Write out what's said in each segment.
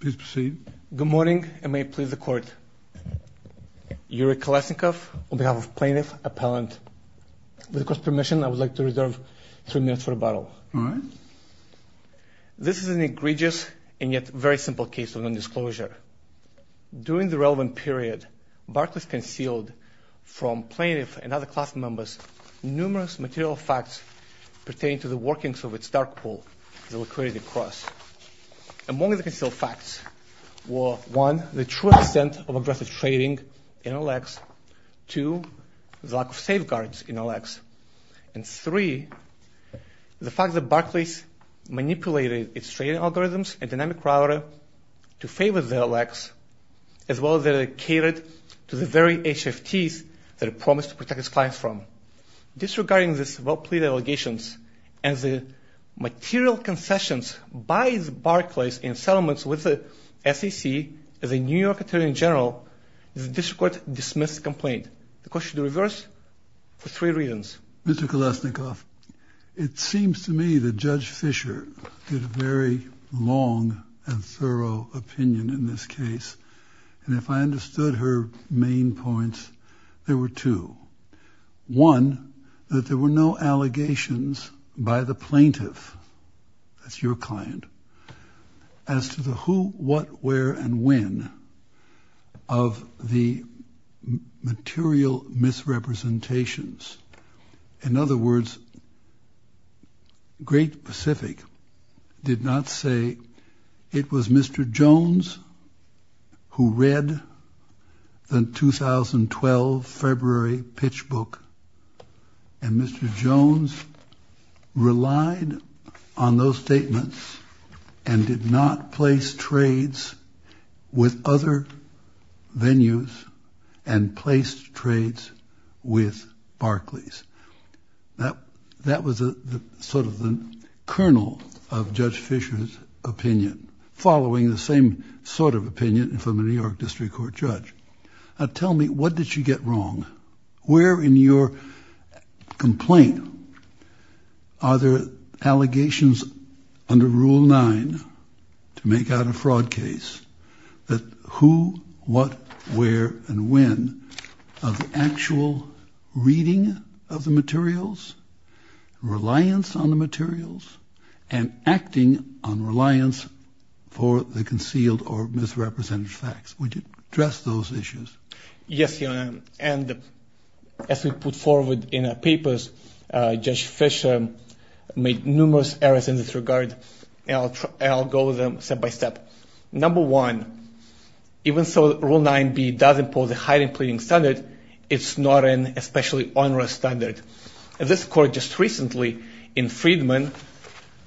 Please proceed. Good morning, and may it please the Court. Yuri Kolesnikov, on behalf of Plaintiff Appellant. With the Court's permission, I would like to reserve three minutes for rebuttal. All right. This is an egregious and yet very simple case of non-disclosure. During the relevant period, Barclays concealed from plaintiffs and other class members numerous material facts pertaining to the workings of its dark pool, the liquidity cross. Among the concealed facts were, one, the true extent of aggressive trading in LX, two, the lack of safeguards in LX, and three, the fact that Barclays manipulated its trading algorithms and dynamic router to favor the LX, as well as that it catered to the very HFTs that it promised to protect its clients from. Disregarding these well-played allegations and the material concessions by Barclays in settlements with the SEC, as a New York attorney general, the District Court dismissed the complaint. The Court should reverse for three reasons. Mr. Kolesnikov, it seems to me that Judge Fischer did a very long and thorough opinion in this case. And if I understood her main points, there were two. One, that there were no allegations by the plaintiff, that's your client, as to the who, what, where, and when of the material misrepresentations. In other words, Great Pacific did not say it was Mr. Jones who read the 2012 February pitch book, and Mr. Jones relied on those statements and did not place trades with other venues and placed trades with Barclays. That was sort of the kernel of Judge Fischer's opinion, following the same sort of opinion from a New York District Court judge. Now tell me, what did she get wrong? Where in your complaint are there allegations under Rule 9 to make out a fraud case, that who, what, where, and when of actual reading of the materials, reliance on the materials, and acting on reliance for the concealed or misrepresented facts? Would you address those issues? Yes, Your Honor, and as we put forward in our papers, Judge Fischer made numerous errors in this regard, and I'll go over them step by step. Number one, even though Rule 9b does impose a heightened pleading standard, it's not an especially onerous standard. This Court just recently, in Freedman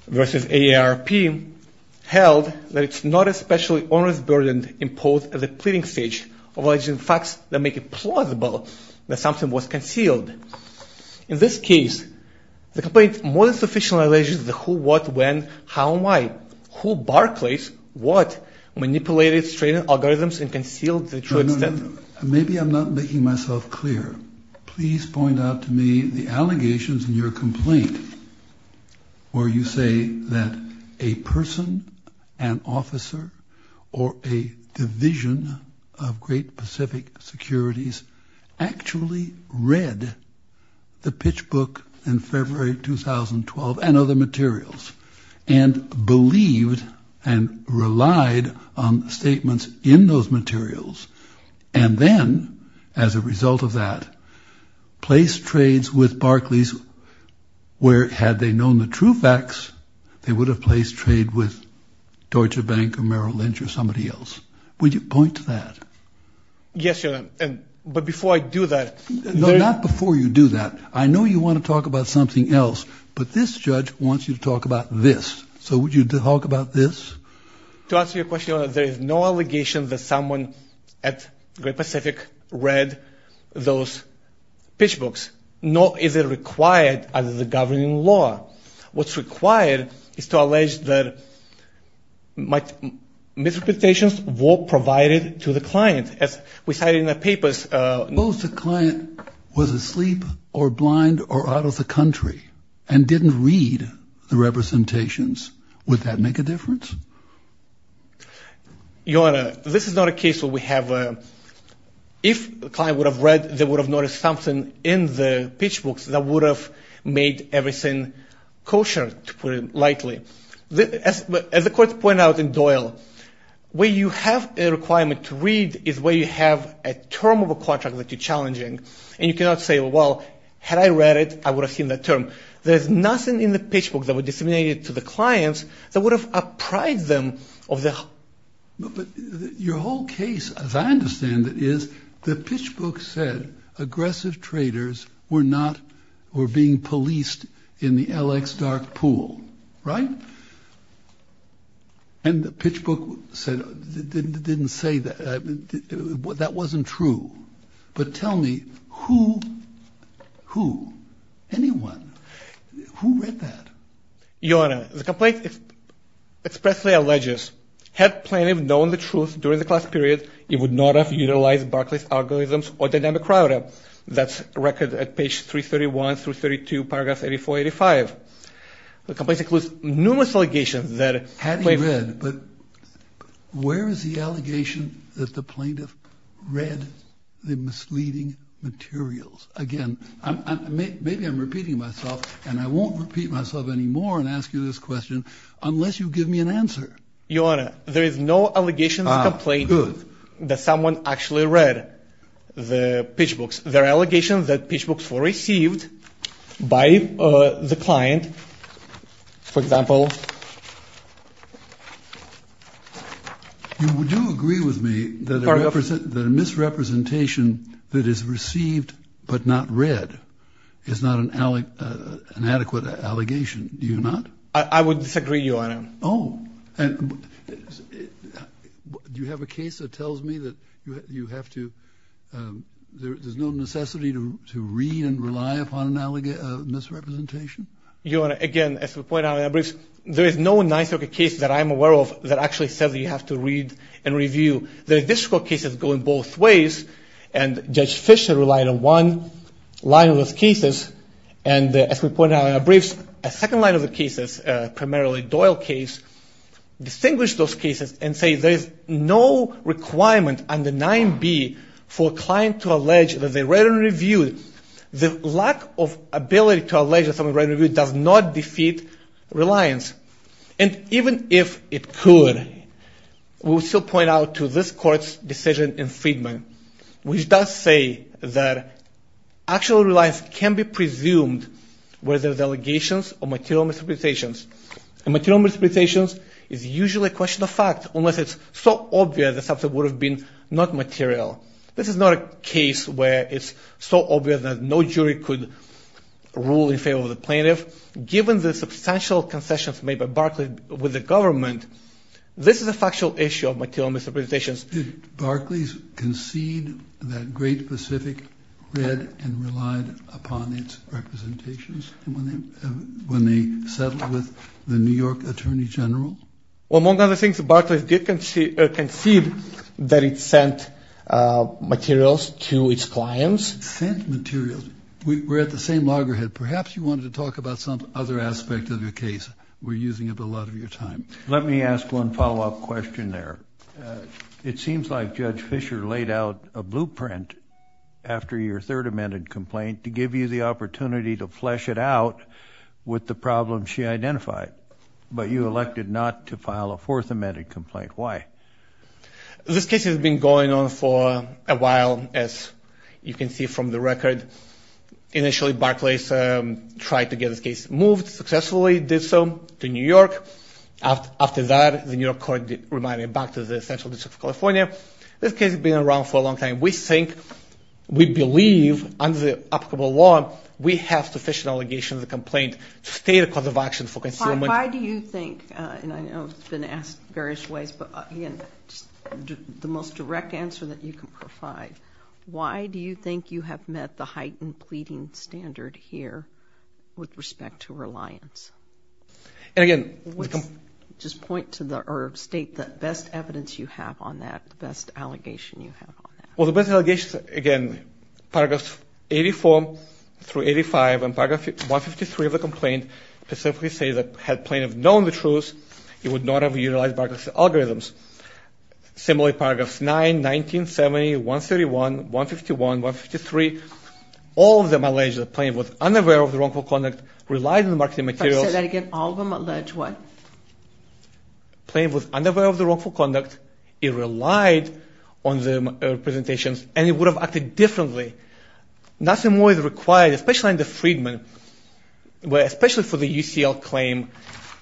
v. AARP, held that it's not especially onerous burden imposed at the pleading stage of alleging facts that make it plausible that something was concealed. In this case, the complaint more than sufficiently alleges the who, what, when, how, and why. Who, Barclays, what, manipulated trade algorithms and concealed the true extent? No, no, no. Maybe I'm not making myself clear. Please point out to me the allegations in your complaint where you say that a person, an officer, or a division of Great Pacific Securities actually read the pitch book in February 2012 and other materials and believed and relied on statements in those materials, and then, as a result of that, placed trades with Barclays where, had they known the true facts, they would have placed trade with Deutsche Bank or Merrill Lynch or somebody else. Would you point to that? Yes, Your Honor, but before I do that... No, not before you do that. I know you want to talk about something else, but this judge wants you to talk about this. So would you talk about this? To answer your question, Your Honor, there is no allegation that someone at Great Pacific read those pitch books, nor is it required under the governing law. What's required is to allege that misrepresentations were provided to the client. As we cited in the papers... Suppose the client was asleep or blind or out of the country and didn't read the representations. Would that make a difference? Your Honor, this is not a case where we have... If the client would have read, they would have noticed something in the pitch books that would have made everything kosher, to put it lightly. As the court pointed out in Doyle, where you have a requirement to read is where you have a term of a contract that you're challenging, and you cannot say, well, had I read it, I would have seen that term. There's nothing in the pitch book that was disseminated to the clients that would have upright them of the... But your whole case, as I understand it, is the pitch book said aggressive traders were not... were being policed in the LX dark pool, right? And the pitch book said... didn't say that... that wasn't true. But tell me who... who... anyone... who read that? Your Honor, the complaint expressly alleges had plaintiff known the truth during the class period, he would not have utilized Barclay's algorithms or dynamic router. That's record at page 331 through 32, paragraph 84-85. The complaint includes numerous allegations that... Had he read, but... Where is the allegation that the plaintiff read the misleading materials? Again, maybe I'm repeating myself, and I won't repeat myself anymore and ask you this question unless you give me an answer. Your Honor, there is no allegations of complaint that someone actually read the pitch books. There are allegations that pitch books were received by the client, for example... You do agree with me that a misrepresentation that is received but not read is not an adequate allegation, do you not? I would disagree, Your Honor. Oh, and... Do you have a case that tells me that you have to... There's no necessity to read and rely upon a misrepresentation? Your Honor, again, as we pointed out in our briefs, there is no 9th Circuit case that I'm aware of that actually says that you have to read and review. The district court cases go in both ways, and Judge Fischer relied on one line of those cases, and as we pointed out in our briefs, a second line of the cases, primarily Doyle case, distinguish those cases and say there is no requirement under 9B for a client to allege that they read and reviewed. The lack of ability to allege that someone read and reviewed does not defeat reliance. And even if it could, we would still point out to this court's decision in Friedman, which does say that actual reliance can be presumed whether it's allegations or material misrepresentations. And material misrepresentations is usually a question of fact, unless it's so obvious that something would have been not material. This is not a case where it's so obvious that no jury could rule in favor of the plaintiff. Given the substantial concessions made by Barclays with the government, this is a factual issue of material misrepresentations. Did Barclays concede that Great Pacific read and relied upon its representations when they settled with the New York Attorney General? Among other things, Barclays did concede that it sent materials to its clients. Sent materials. We're at the same loggerhead. Perhaps you wanted to talk about some other aspect of your case. We're using up a lot of your time. Let me ask one follow-up question there. It seems like Judge Fischer laid out a blueprint after your Third Amendment complaint to give you the opportunity to flesh it out with the problems she identified. But you elected not to file a Fourth Amendment complaint. Why? This case has been going on for a while, as you can see from the record. Initially, Barclays tried to get this case moved successfully. Did so to New York. After that, the New York court reminded it back to the Central District of California. This case has been around for a long time. We think, we believe, under the applicable law, we have sufficient allegations of complaint to state a cause of action for concealment. Why do you think, and I know it's been asked in various ways, but again, the most direct answer that you can provide, why do you think you have met the heightened pleading standard here with respect to reliance? And again... Just point to the, or state the best evidence you have on that, the best allegation you have on that. Well, the best allegations, again, Paragraphs 84 through 85 and Paragraph 153 of the complaint specifically say that had Plaintiff known the truth, he would not have utilized Barclays' algorithms. Similarly, Paragraphs 9, 19, 70, 131, 151, 153, all of them allege that Plaintiff was unaware of the wrongful conduct, relied on the marketing materials... Say that again, all of them allege what? Plaintiff was unaware of the wrongful conduct, he relied on the representations, and he would have acted differently. Nothing more is required, especially under Freedman, where especially for the UCL claim,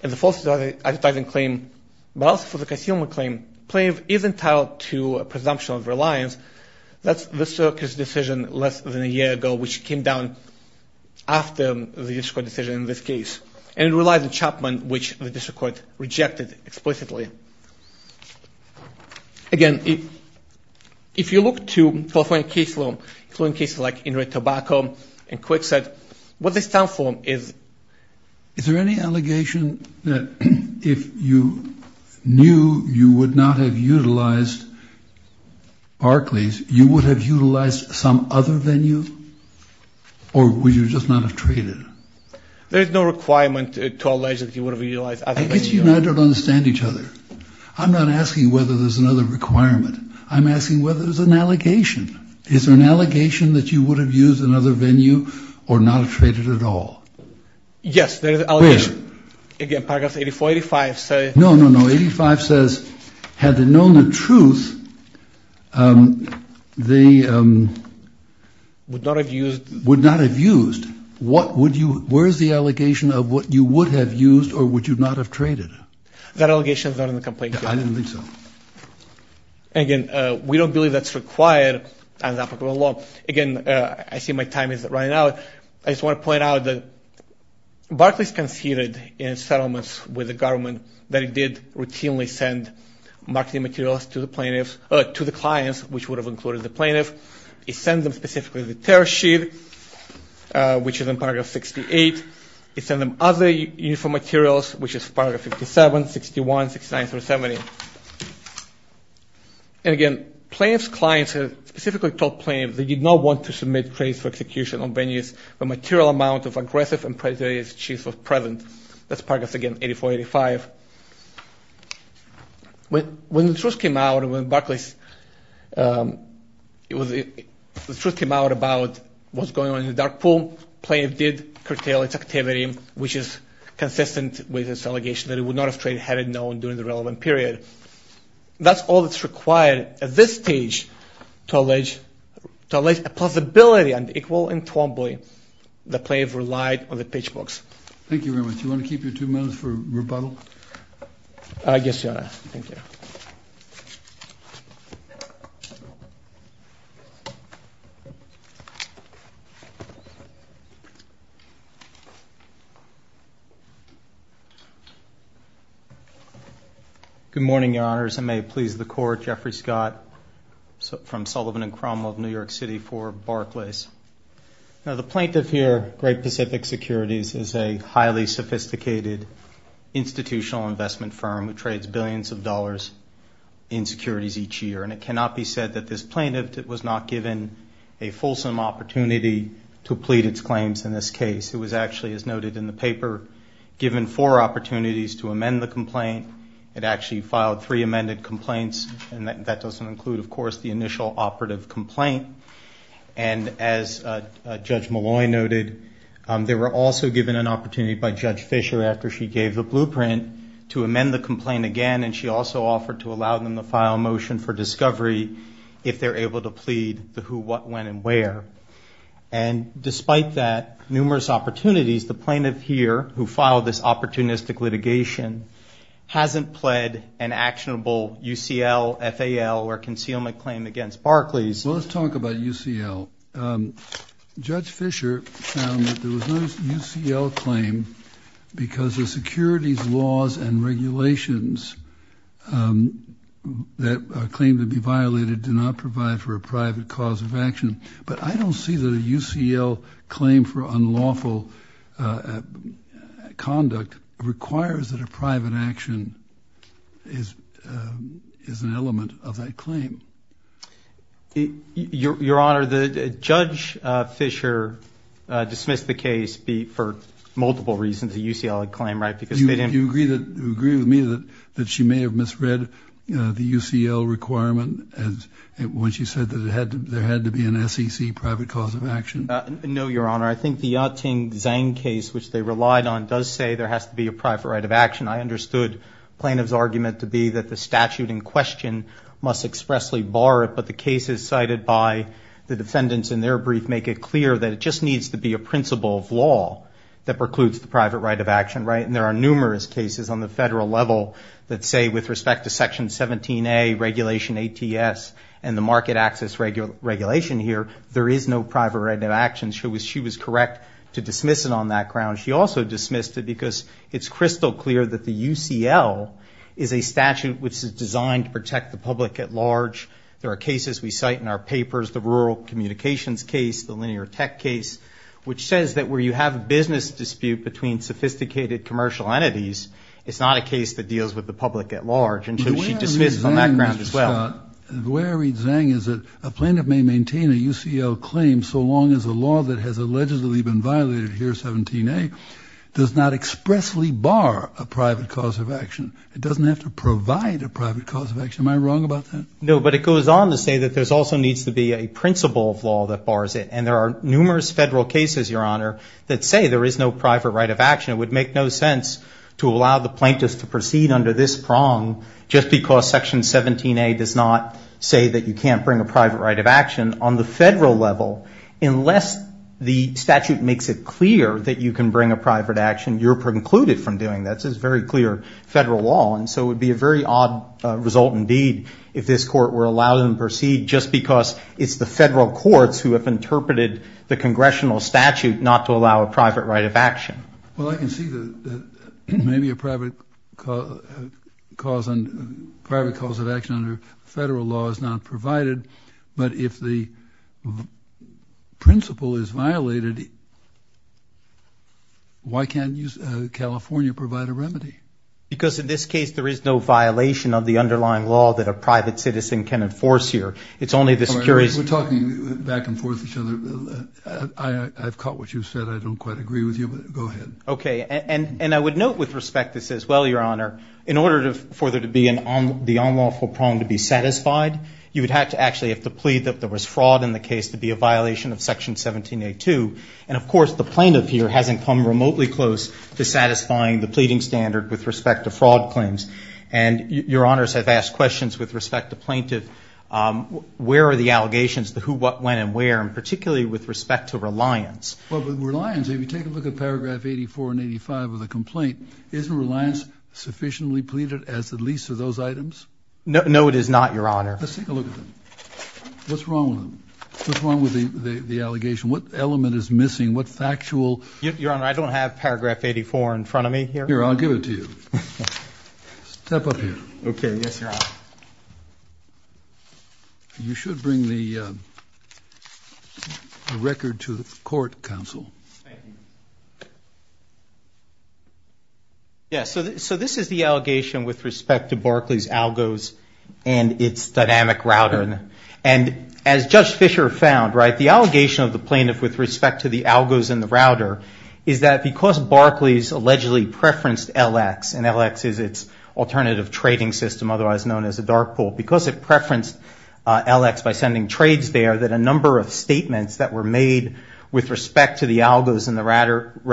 and the false advertising claim, but also for the concealment claim, Plaintiff is entitled to a presumption of reliance. That's the circuit's decision less than a year ago, which came down after the district court decision in this case. And it relies on Chapman, which the district court rejected explicitly. Again, if you look to California case law, including cases like In Red Tobacco and Quickset, what they stand for is... Is there any allegation that if you knew you would not have utilized Barclays, you would have utilized some other venue, or would you just not have traded? There is no requirement to allege that you would have utilized other venues. I guess you and I don't understand each other. I'm not asking whether there's another requirement. I'm asking whether there's an allegation. Is there an allegation that you would have used another venue, or not have traded at all? Yes, there is an allegation. Again, paragraph 84, 85 says... No, no, no, 85 says, had they known the truth, they would not have used. Where is the allegation of what you would have used, or would you not have traded? That allegation is not in the complaint. I didn't think so. Again, we don't believe that's required under applicable law. Again, I see my time is running out. I just want to point out that Barclays conceded in settlements with the government that it did routinely send marketing materials to the clients, which would have included the plaintiff. It sent them specifically the tariff sheet, which is in paragraph 68. It sent them other uniform materials, which is in paragraph 57, 61, 69, 370. And again, plaintiff's clients specifically told plaintiff they did not want to submit trades for execution on venues where a material amount of aggressive and predatory cheese was present. That's paragraph, again, 84, 85. When the truth came out about what was going on in the dark pool, plaintiff did curtail its activity, which is consistent with this allegation that it would not have traded had it known during the relevant period. That's all that's required at this stage to allege a possibility and equal in Twombly that plaintiff relied on the pitch box. Thank you very much. Do you want to keep your two minutes for rebuttal? Yes, Your Honor. Thank you. Good morning, Your Honors. I may please the Court. Jeffrey Scott from Sullivan and Cromwell of New York City for Barclays. Now the plaintiff here, Great Pacific Securities, is a highly sophisticated institutional investment firm that trades billions of dollars in securities each year, and it cannot be said that this plaintiff was not given a fulsome opportunity to plead its claims in this case. It was actually, as noted in the paper, given four opportunities to amend the complaint. It actually filed three amended complaints, and that doesn't include, of course, the initial operative complaint. And as Judge Malloy noted, they were also given an opportunity by Judge Fisher after she gave the blueprint to amend the complaint again, and she also offered to allow them to file a motion for discovery if they're able to plead the who, what, when, and where. And despite that numerous opportunities, the plaintiff here who filed this opportunistic litigation hasn't pled an actionable UCL, FAL, or concealment claim against Barclays. Well, let's talk about UCL. Judge Fisher found that there was no UCL claim because the securities laws and regulations that claim to be violated do not provide for a private cause of action. But I don't see that a UCL claim for unlawful conduct requires that a private action is an element of that claim. Your Honor, Judge Fisher dismissed the case for multiple reasons, a UCL claim, right? Do you agree with me that she may have misread the UCL requirement when she said that there had to be an SEC private cause of action? No, Your Honor. I think the Yateng Zhang case, which they relied on, does say there has to be a private right of action. I understood plaintiff's argument to be that the statute in question must expressly bar it, but the cases cited by the defendants in their brief make it clear that it just needs to be a principle of law that precludes the private right of action, right? And there are numerous cases on the federal level that say with respect to Section 17A, regulation ATS, and the market access regulation here, there is no private right of action. She was correct to dismiss it on that ground. She also dismissed it because it's crystal clear that the UCL is a statute which is designed to protect the public at large. There are cases we cite in our papers, the rural communications case, the linear tech case, which says that where you have a business dispute between sophisticated commercial entities, it's not a case that deals with the public at large, and so she dismissed it on that ground as well. The way I read Zhang is that a plaintiff may maintain a UCL claim so long as a law that has allegedly been violated here, 17A, does not expressly bar a private cause of action. It doesn't have to provide a private cause of action. Am I wrong about that? No, but it goes on to say that there also needs to be a principle of law that bars it, and there are numerous federal cases, Your Honor, that say there is no private right of action. It would make no sense to allow the plaintiffs to proceed under this prong just because Section 17A does not say that you can't bring a private right of action. On the federal level, unless the statute makes it clear that you can bring a private action, you're precluded from doing that. This is very clear federal law, and so it would be a very odd result indeed if this Court were allowed to proceed just because it's the federal courts who have interpreted the congressional statute not to allow a private right of action. Well, I can see that maybe a private cause of action under federal law is not provided, but if the principle is violated, why can't California provide a remedy? Because in this case there is no violation of the underlying law that a private citizen can enforce here. It's only the securities. We're talking back and forth with each other. I've caught what you said. I don't quite agree with you, but go ahead. Okay, and I would note with respect this as well, Your Honor, in order for the unlawful prong to be satisfied, you would have to actually have to plead that there was fraud in the case to be a violation of Section 1782. And, of course, the plaintiff here hasn't come remotely close to satisfying the pleading standard with respect to fraud claims. And Your Honors have asked questions with respect to plaintiff. Where are the allegations, the who, what, when, and where, and particularly with respect to reliance? Well, with reliance, if you take a look at paragraph 84 and 85 of the complaint, isn't reliance sufficiently pleaded as the least of those items? No, it is not, Your Honor. Let's take a look at them. What's wrong with them? What's wrong with the allegation? What element is missing? What factual? Your Honor, I don't have paragraph 84 in front of me here. Here, I'll give it to you. Step up here. Okay, yes, Your Honor. You should bring the record to the court, counsel. Thank you. Yes, so this is the allegation with respect to Barclays' ALGOS and its dynamic router. And as Judge Fisher found, right, the allegation of the plaintiff with respect to the ALGOS and the router is that because Barclays allegedly preferenced LX, and LX is its alternative trading system, otherwise known as a dark pool, because it preferenced LX by sending trades there,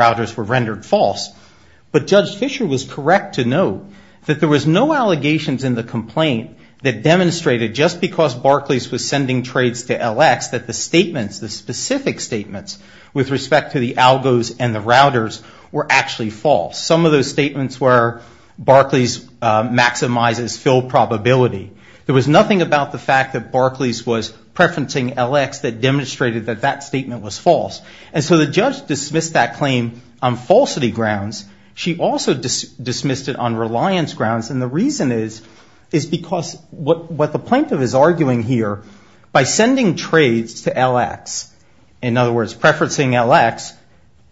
were rendered false. But Judge Fisher was correct to note that there was no allegations in the complaint that demonstrated just because Barclays was sending trades to LX that the statements, the specific statements with respect to the ALGOS and the routers were actually false. Some of those statements were Barclays maximizes fill probability. There was nothing about the fact that Barclays was preferencing LX that demonstrated that that statement was false. And so the judge dismissed that claim on falsity grounds. She also dismissed it on reliance grounds. And the reason is, is because what the plaintiff is arguing here, by sending trades to LX, in other words, preferencing LX,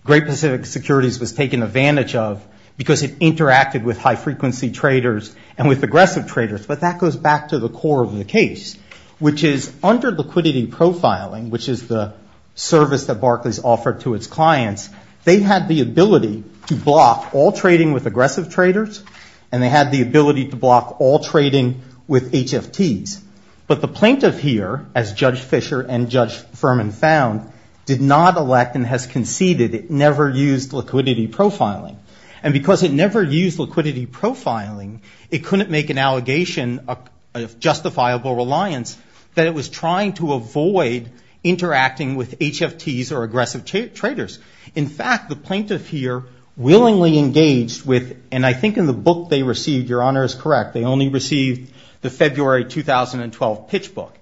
Great Pacific Securities was taken advantage of because it interacted with high frequency traders and with aggressive traders. But that goes back to the core of the case, which is under liquidity profiling, which is the service that Barclays offered to its clients. They had the ability to block all trading with aggressive traders, and they had the ability to block all trading with HFTs. But the plaintiff here, as Judge Fisher and Judge Furman found, did not elect and has conceded it never used liquidity profiling. And because it never used liquidity profiling, it couldn't make an allegation of justifiable reliance that it was trying to avoid interacting with HFTs or aggressive traders. In fact, the plaintiff here willingly engaged with, and I think in the book they received, Your Honor is correct, they only received the February 2012 pitch book.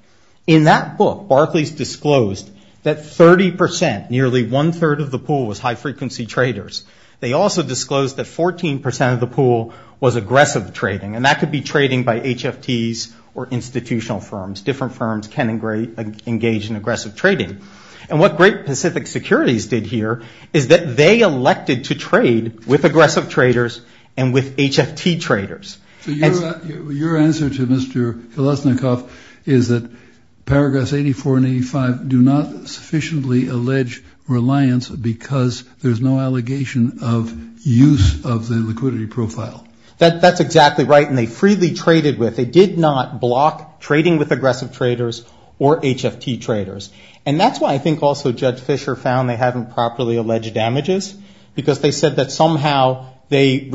In that book, Barclays disclosed that 30%, nearly one-third of the pool was high frequency traders. They also disclosed that 14% of the pool was aggressive trading, and that could be trading by HFTs or institutional firms, different firms can engage in aggressive trading. And what Great Pacific Securities did here is that they elected to trade with aggressive traders and with HFT traders. So your answer to Mr. Kolesnikov is that paragraphs 84 and 85 do not sufficiently allege reliance because there's no allegation of use of the liquidity profile. That's exactly right, and they freely traded with. They did not block trading with aggressive traders or HFT traders. And that's why I think also Judge Fischer found they haven't properly alleged damages because they said that somehow they didn't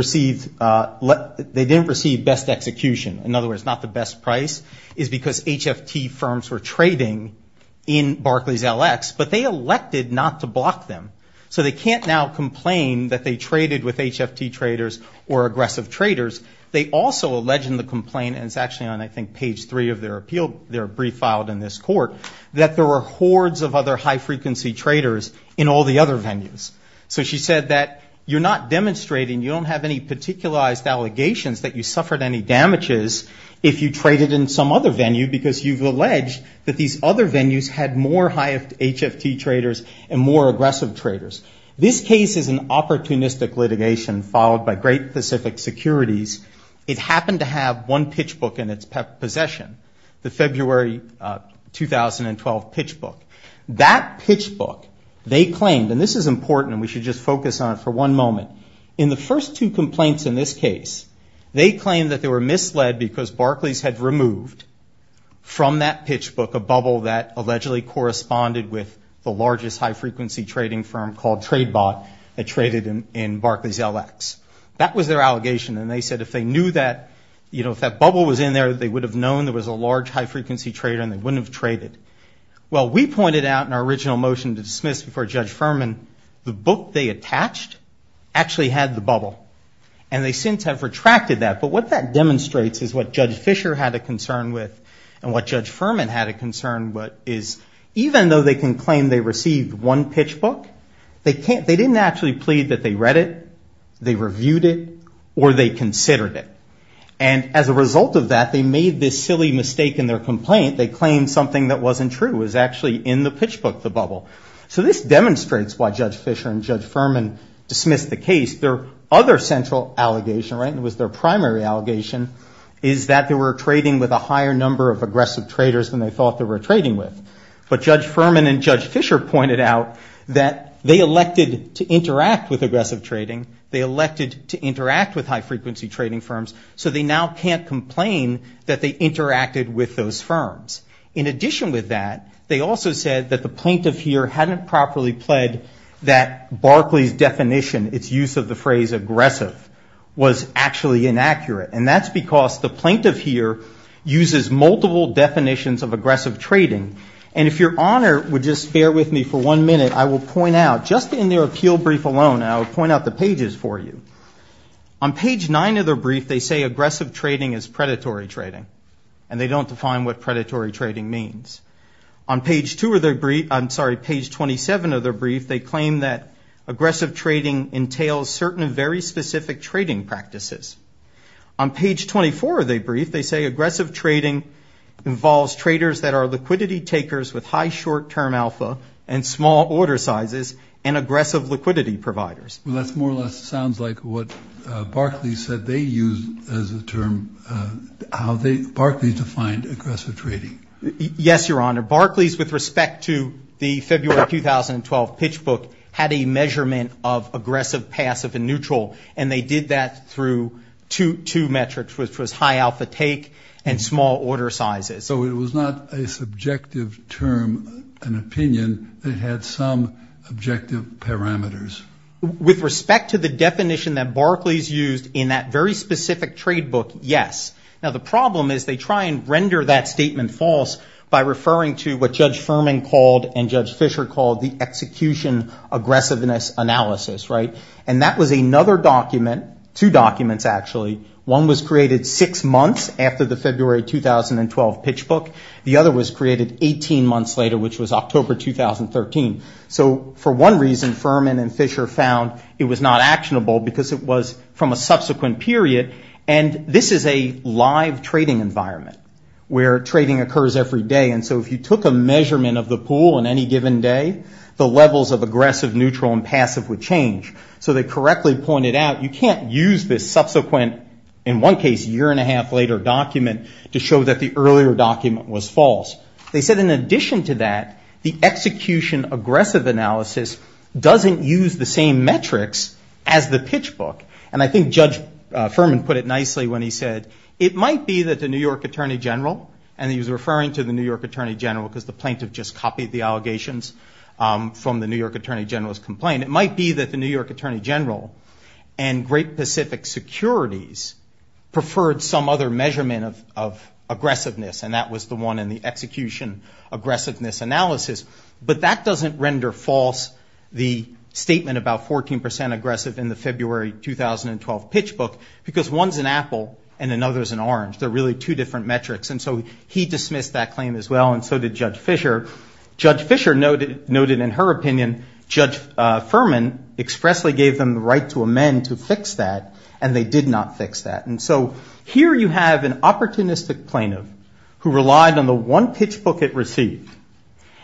receive best execution. In other words, not the best price is because HFT firms were trading in Barclays LX, but they elected not to block them. So they can't now complain that they traded with HFT traders or aggressive traders. They also alleged in the complaint, and it's actually on, I think, page three of their brief filed in this court, that there were hordes of other high-frequency traders in all the other venues. So she said that you're not demonstrating, you don't have any particularized allegations that you suffered any damages if you traded in some other venue because you've alleged that these other venues had more HFT traders and more aggressive traders. This case is an opportunistic litigation followed by Great Pacific Securities. It happened to have one pitch book in its possession, the February 2012 pitch book. That pitch book, they claimed, and this is important, and we should just focus on it for one moment. In the first two complaints in this case, they claimed that they were misled because Barclays had removed from that pitch book a bubble that allegedly corresponded with the largest high-frequency trading firm called TradeBot that traded in Barclays LX. That was their allegation, and they said if they knew that, you know, if that bubble was in there, they would have known there was a large high-frequency trader and they wouldn't have traded. Well, we pointed out in our original motion to dismiss before Judge Furman, the book they attached actually had the bubble, and they since have retracted that. But what that demonstrates is what Judge Fisher had a concern with and what Judge Furman had a concern with is, even though they can claim they received one pitch book, they didn't actually plead that they read it, they reviewed it, or they considered it. And as a result of that, they made this silly mistake in their complaint. They claimed something that wasn't true. It was actually in the pitch book, the bubble. So this demonstrates why Judge Fisher and Judge Furman dismissed the case. Their other central allegation, right, and it was their primary allegation, is that they were trading with a higher number of aggressive traders than they thought they were trading with. But Judge Furman and Judge Fisher pointed out that they elected to interact with aggressive trading. They elected to interact with high-frequency trading firms, so they now can't complain that they interacted with those firms. In addition with that, they also said that the plaintiff here hadn't properly pled that Barclay's definition, its use of the phrase aggressive, was actually inaccurate. And that's because the plaintiff here uses multiple definitions of aggressive trading. And if Your Honor would just bear with me for one minute, I will point out just in their appeal brief alone, I will point out the pages for you. On page 9 of their brief, they say aggressive trading is predatory trading, and they don't define what predatory trading means. On page 2 of their brief, I'm sorry, page 27 of their brief, they claim that aggressive trading entails certain very specific trading practices. On page 24 of their brief, they say aggressive trading involves traders that are liquidity takers with high short-term alpha and small order sizes and aggressive liquidity providers. Well, that more or less sounds like what Barclay said they used as a term, how Barclay defined aggressive trading. Yes, Your Honor. Barclay's, with respect to the February 2012 pitch book, had a measurement of aggressive, passive, and neutral. And they did that through two metrics, which was high alpha take and small order sizes. So it was not a subjective term, an opinion that had some objective parameters. With respect to the definition that Barclay's used in that very specific trade book, yes. Now the problem is they try and render that statement false by referring to what Judge Furman called and Judge Fisher called the execution aggressiveness analysis, right? And that was another document, two documents actually. One was created six months after the February 2012 pitch book. The other was created 18 months later, which was October 2013. So for one reason, Furman and Fisher found it was not actionable because it was from a subsequent period. And this is a live trading environment where trading occurs every day. And so if you took a measurement of the pool on any given day, the levels of aggressive, neutral, and passive would change. So they correctly pointed out you can't use this subsequent, in one case year and a half later document, to show that the earlier document was false. They said in addition to that, the execution aggressive analysis doesn't use the same metrics as the pitch book. And I think Judge Furman put it nicely when he said, it might be that the New York Attorney General, and he was referring to the New York Attorney General because the plaintiff just copied the allegations from the New York Attorney General's complaint. It might be that the New York Attorney General and Great Pacific Securities preferred some other measurement of aggressiveness, and that was the one in the execution aggressiveness analysis. But that doesn't render false the statement about 14% aggressive in the February 2012 pitch book because one's an apple and another's an orange. They're really two different metrics. And so he dismissed that claim as well, and so did Judge Fisher. Judge Fisher noted in her opinion, Judge Furman expressly gave them the right to amend to fix that, and they did not fix that. And so here you have an opportunistic plaintiff who relied on the one pitch book it received.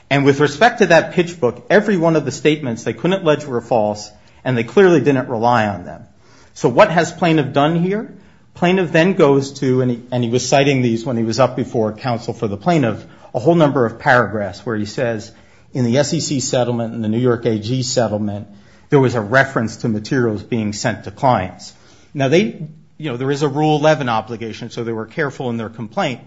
And with respect to that pitch book, every one of the statements they couldn't allege were false, and they clearly didn't rely on them. So what has plaintiff done here? Plaintiff then goes to, and he was citing these when he was up before counsel for the plaintiff, a whole number of paragraphs where he says, in the SEC settlement and the New York AG settlement, there was a reference to materials being sent to clients. Now they, you know, there is a rule 11 obligation, so they were careful in their complaint.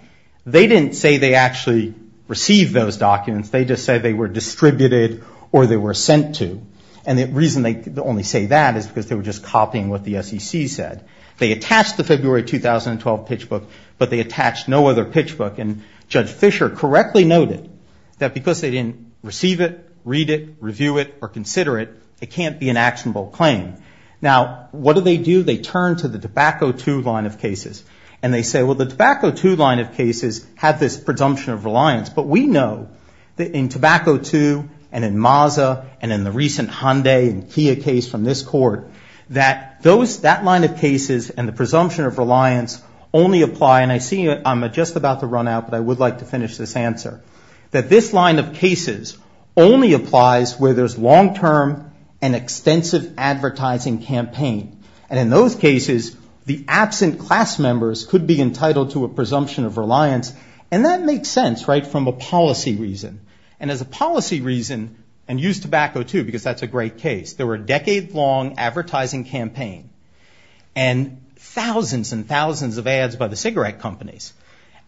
They didn't say they actually received those documents. They just said they were distributed or they were sent to. And the reason they only say that is because they were just copying what the SEC said. They attached the February 2012 pitch book, but they attached no other pitch book. And Judge Fisher correctly noted that because they didn't receive it, read it, review it, or consider it, it can't be an actionable claim. Now, what do they do? They turn to the Tobacco II line of cases, and they say, well, the Tobacco II line of cases have this presumption of reliance, but we know that in Tobacco II and in Maza and in the recent Hyundai and Kia case from this court, that that line of cases and the presumption of reliance only apply, and I see I'm just about to run out, but I would like to finish this answer, that this line of cases only applies where there's long-term and extensive advertising campaign. And in those cases, the absent class members could be entitled to a presumption of reliance, and that makes sense, right, from a policy reason. And as a policy reason, and use Tobacco II, because that's a great case. There were a decade-long advertising campaign, and thousands and thousands of ads by the cigarette companies.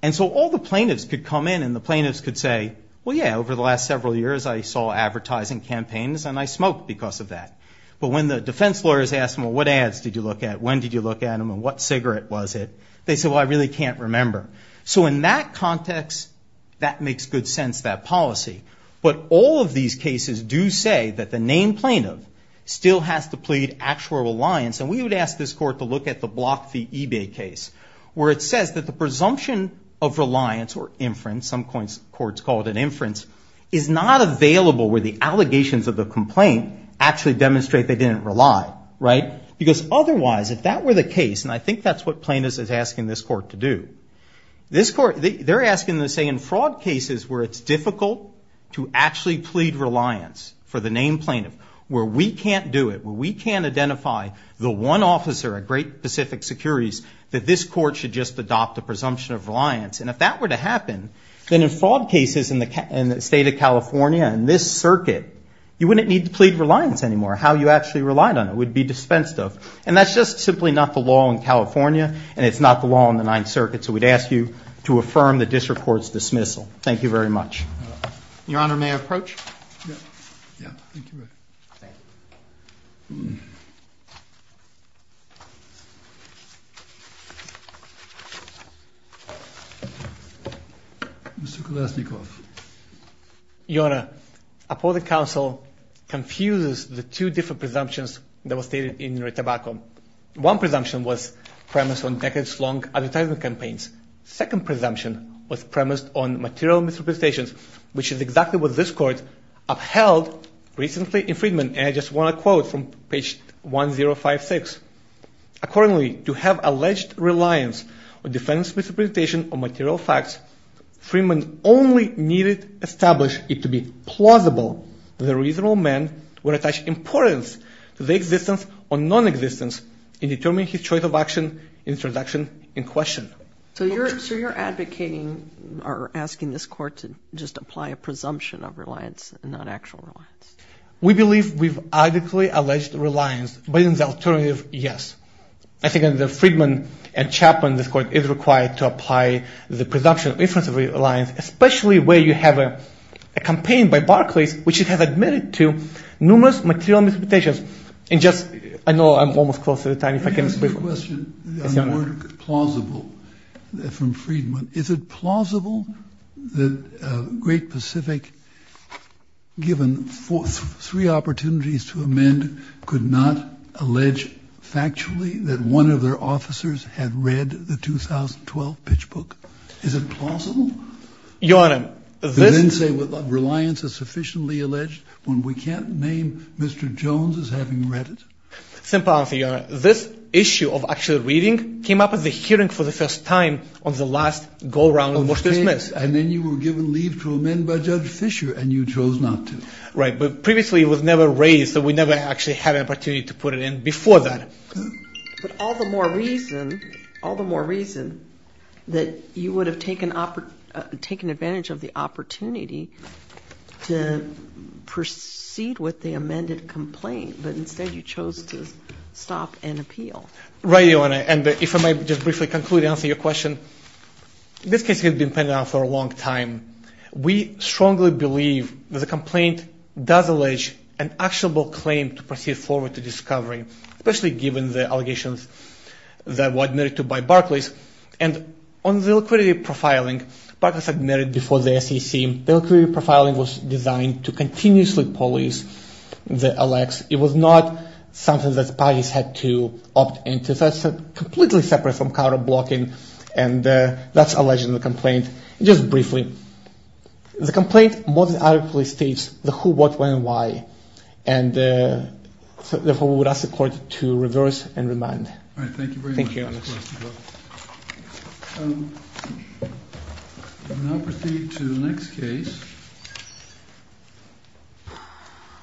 And so all the plaintiffs could come in, and the plaintiffs could say, well, yeah, over the last several years I saw advertising campaigns, and I smoked because of that. But when the defense lawyers asked them, well, what ads did you look at, when did you look at them, and what cigarette was it, they said, well, I really can't remember. So in that context, that makes good sense, that policy. But all of these cases do say that the named plaintiff still has to plead actual reliance. And we would ask this court to look at the Block v. Ebay case, where it says that the presumption of reliance, or inference, some courts call it an inference, is not available where the allegations of the complaint actually demonstrate they didn't rely, right? Because otherwise, if that were the case, and I think that's what plaintiffs are asking this court to do, they're asking them to say in fraud cases where it's difficult to actually plead reliance for the named plaintiff, where we can't do it, where we can't identify the one officer at Great Pacific Securities, that this court should just adopt a presumption of reliance. And if that were to happen, then in fraud cases in the state of California, in this circuit, you wouldn't need to plead reliance anymore. How you actually relied on it would be dispensed of. And that's just simply not the law in California, and it's not the law in the Ninth Circuit. So we'd ask you to affirm the district court's dismissal. Thank you very much. Your Honor, may I approach? Yeah. Thank you very much. Thank you. Mr. Kulashnikov. Your Honor, appellate counsel confuses the two different presumptions that were stated in your tobacco. One presumption was premised on decades-long advertisement campaigns. The second presumption was premised on material misrepresentations, which is exactly what this Court upheld recently in Freedman. And I just want to quote from page 1056. Accordingly, to have alleged reliance on defense misrepresentation or material facts, Freedman only needed to establish it to be plausible that a reasonable man would attach importance to the existence or nonexistence in determining his choice of action, introduction, and question. So you're advocating or asking this Court to just apply a presumption of reliance and not actual reliance? We believe we've adequately alleged reliance, but in the alternative, yes. I think in the Freedman and Chapman, this Court is required to apply the presumption of inference of reliance, especially where you have a campaign by Barclays, which it has admitted to numerous material misrepresentations and just I know I'm almost close to the time if I can speak. Let me ask you a question on the word plausible from Freedman. Is it plausible that Great Pacific, given three opportunities to amend, could not allege factually that one of their officers had read the 2012 pitch book? Is it plausible? Your Honor, this Reliance is sufficiently alleged when we can't name Mr. Jones as having read it? Simple answer, Your Honor. This issue of actually reading came up at the hearing for the first time on the last go-round in Bush v. Smith. And then you were given leave to amend by Judge Fisher, and you chose not to. Right, but previously it was never raised, so we never actually had an opportunity to put it in before that. But all the more reason that you would have taken advantage of the opportunity to proceed with the amended complaint, but instead you chose to stop and appeal. Right, Your Honor, and if I might just briefly conclude and answer your question. This case has been pending on for a long time. We strongly believe that the complaint does allege an actionable claim to proceed forward to discovery, especially given the allegations that were admitted to by Barclays. And on the liquidity profiling, Barclays admitted before the SEC, the liquidity profiling was designed to continuously police the LX. It was not something that the parties had to opt into. That's completely separate from counter-blocking, and that's alleging the complaint. Just briefly, the complaint most adequately states the who, what, when, and why. Therefore, we would ask the Court to reverse and remand. All right, thank you very much. Thank you, Your Honor. We now proceed to the next case,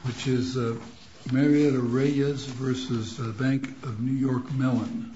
which is Marietta Reyes v. Bank of New York Mellon.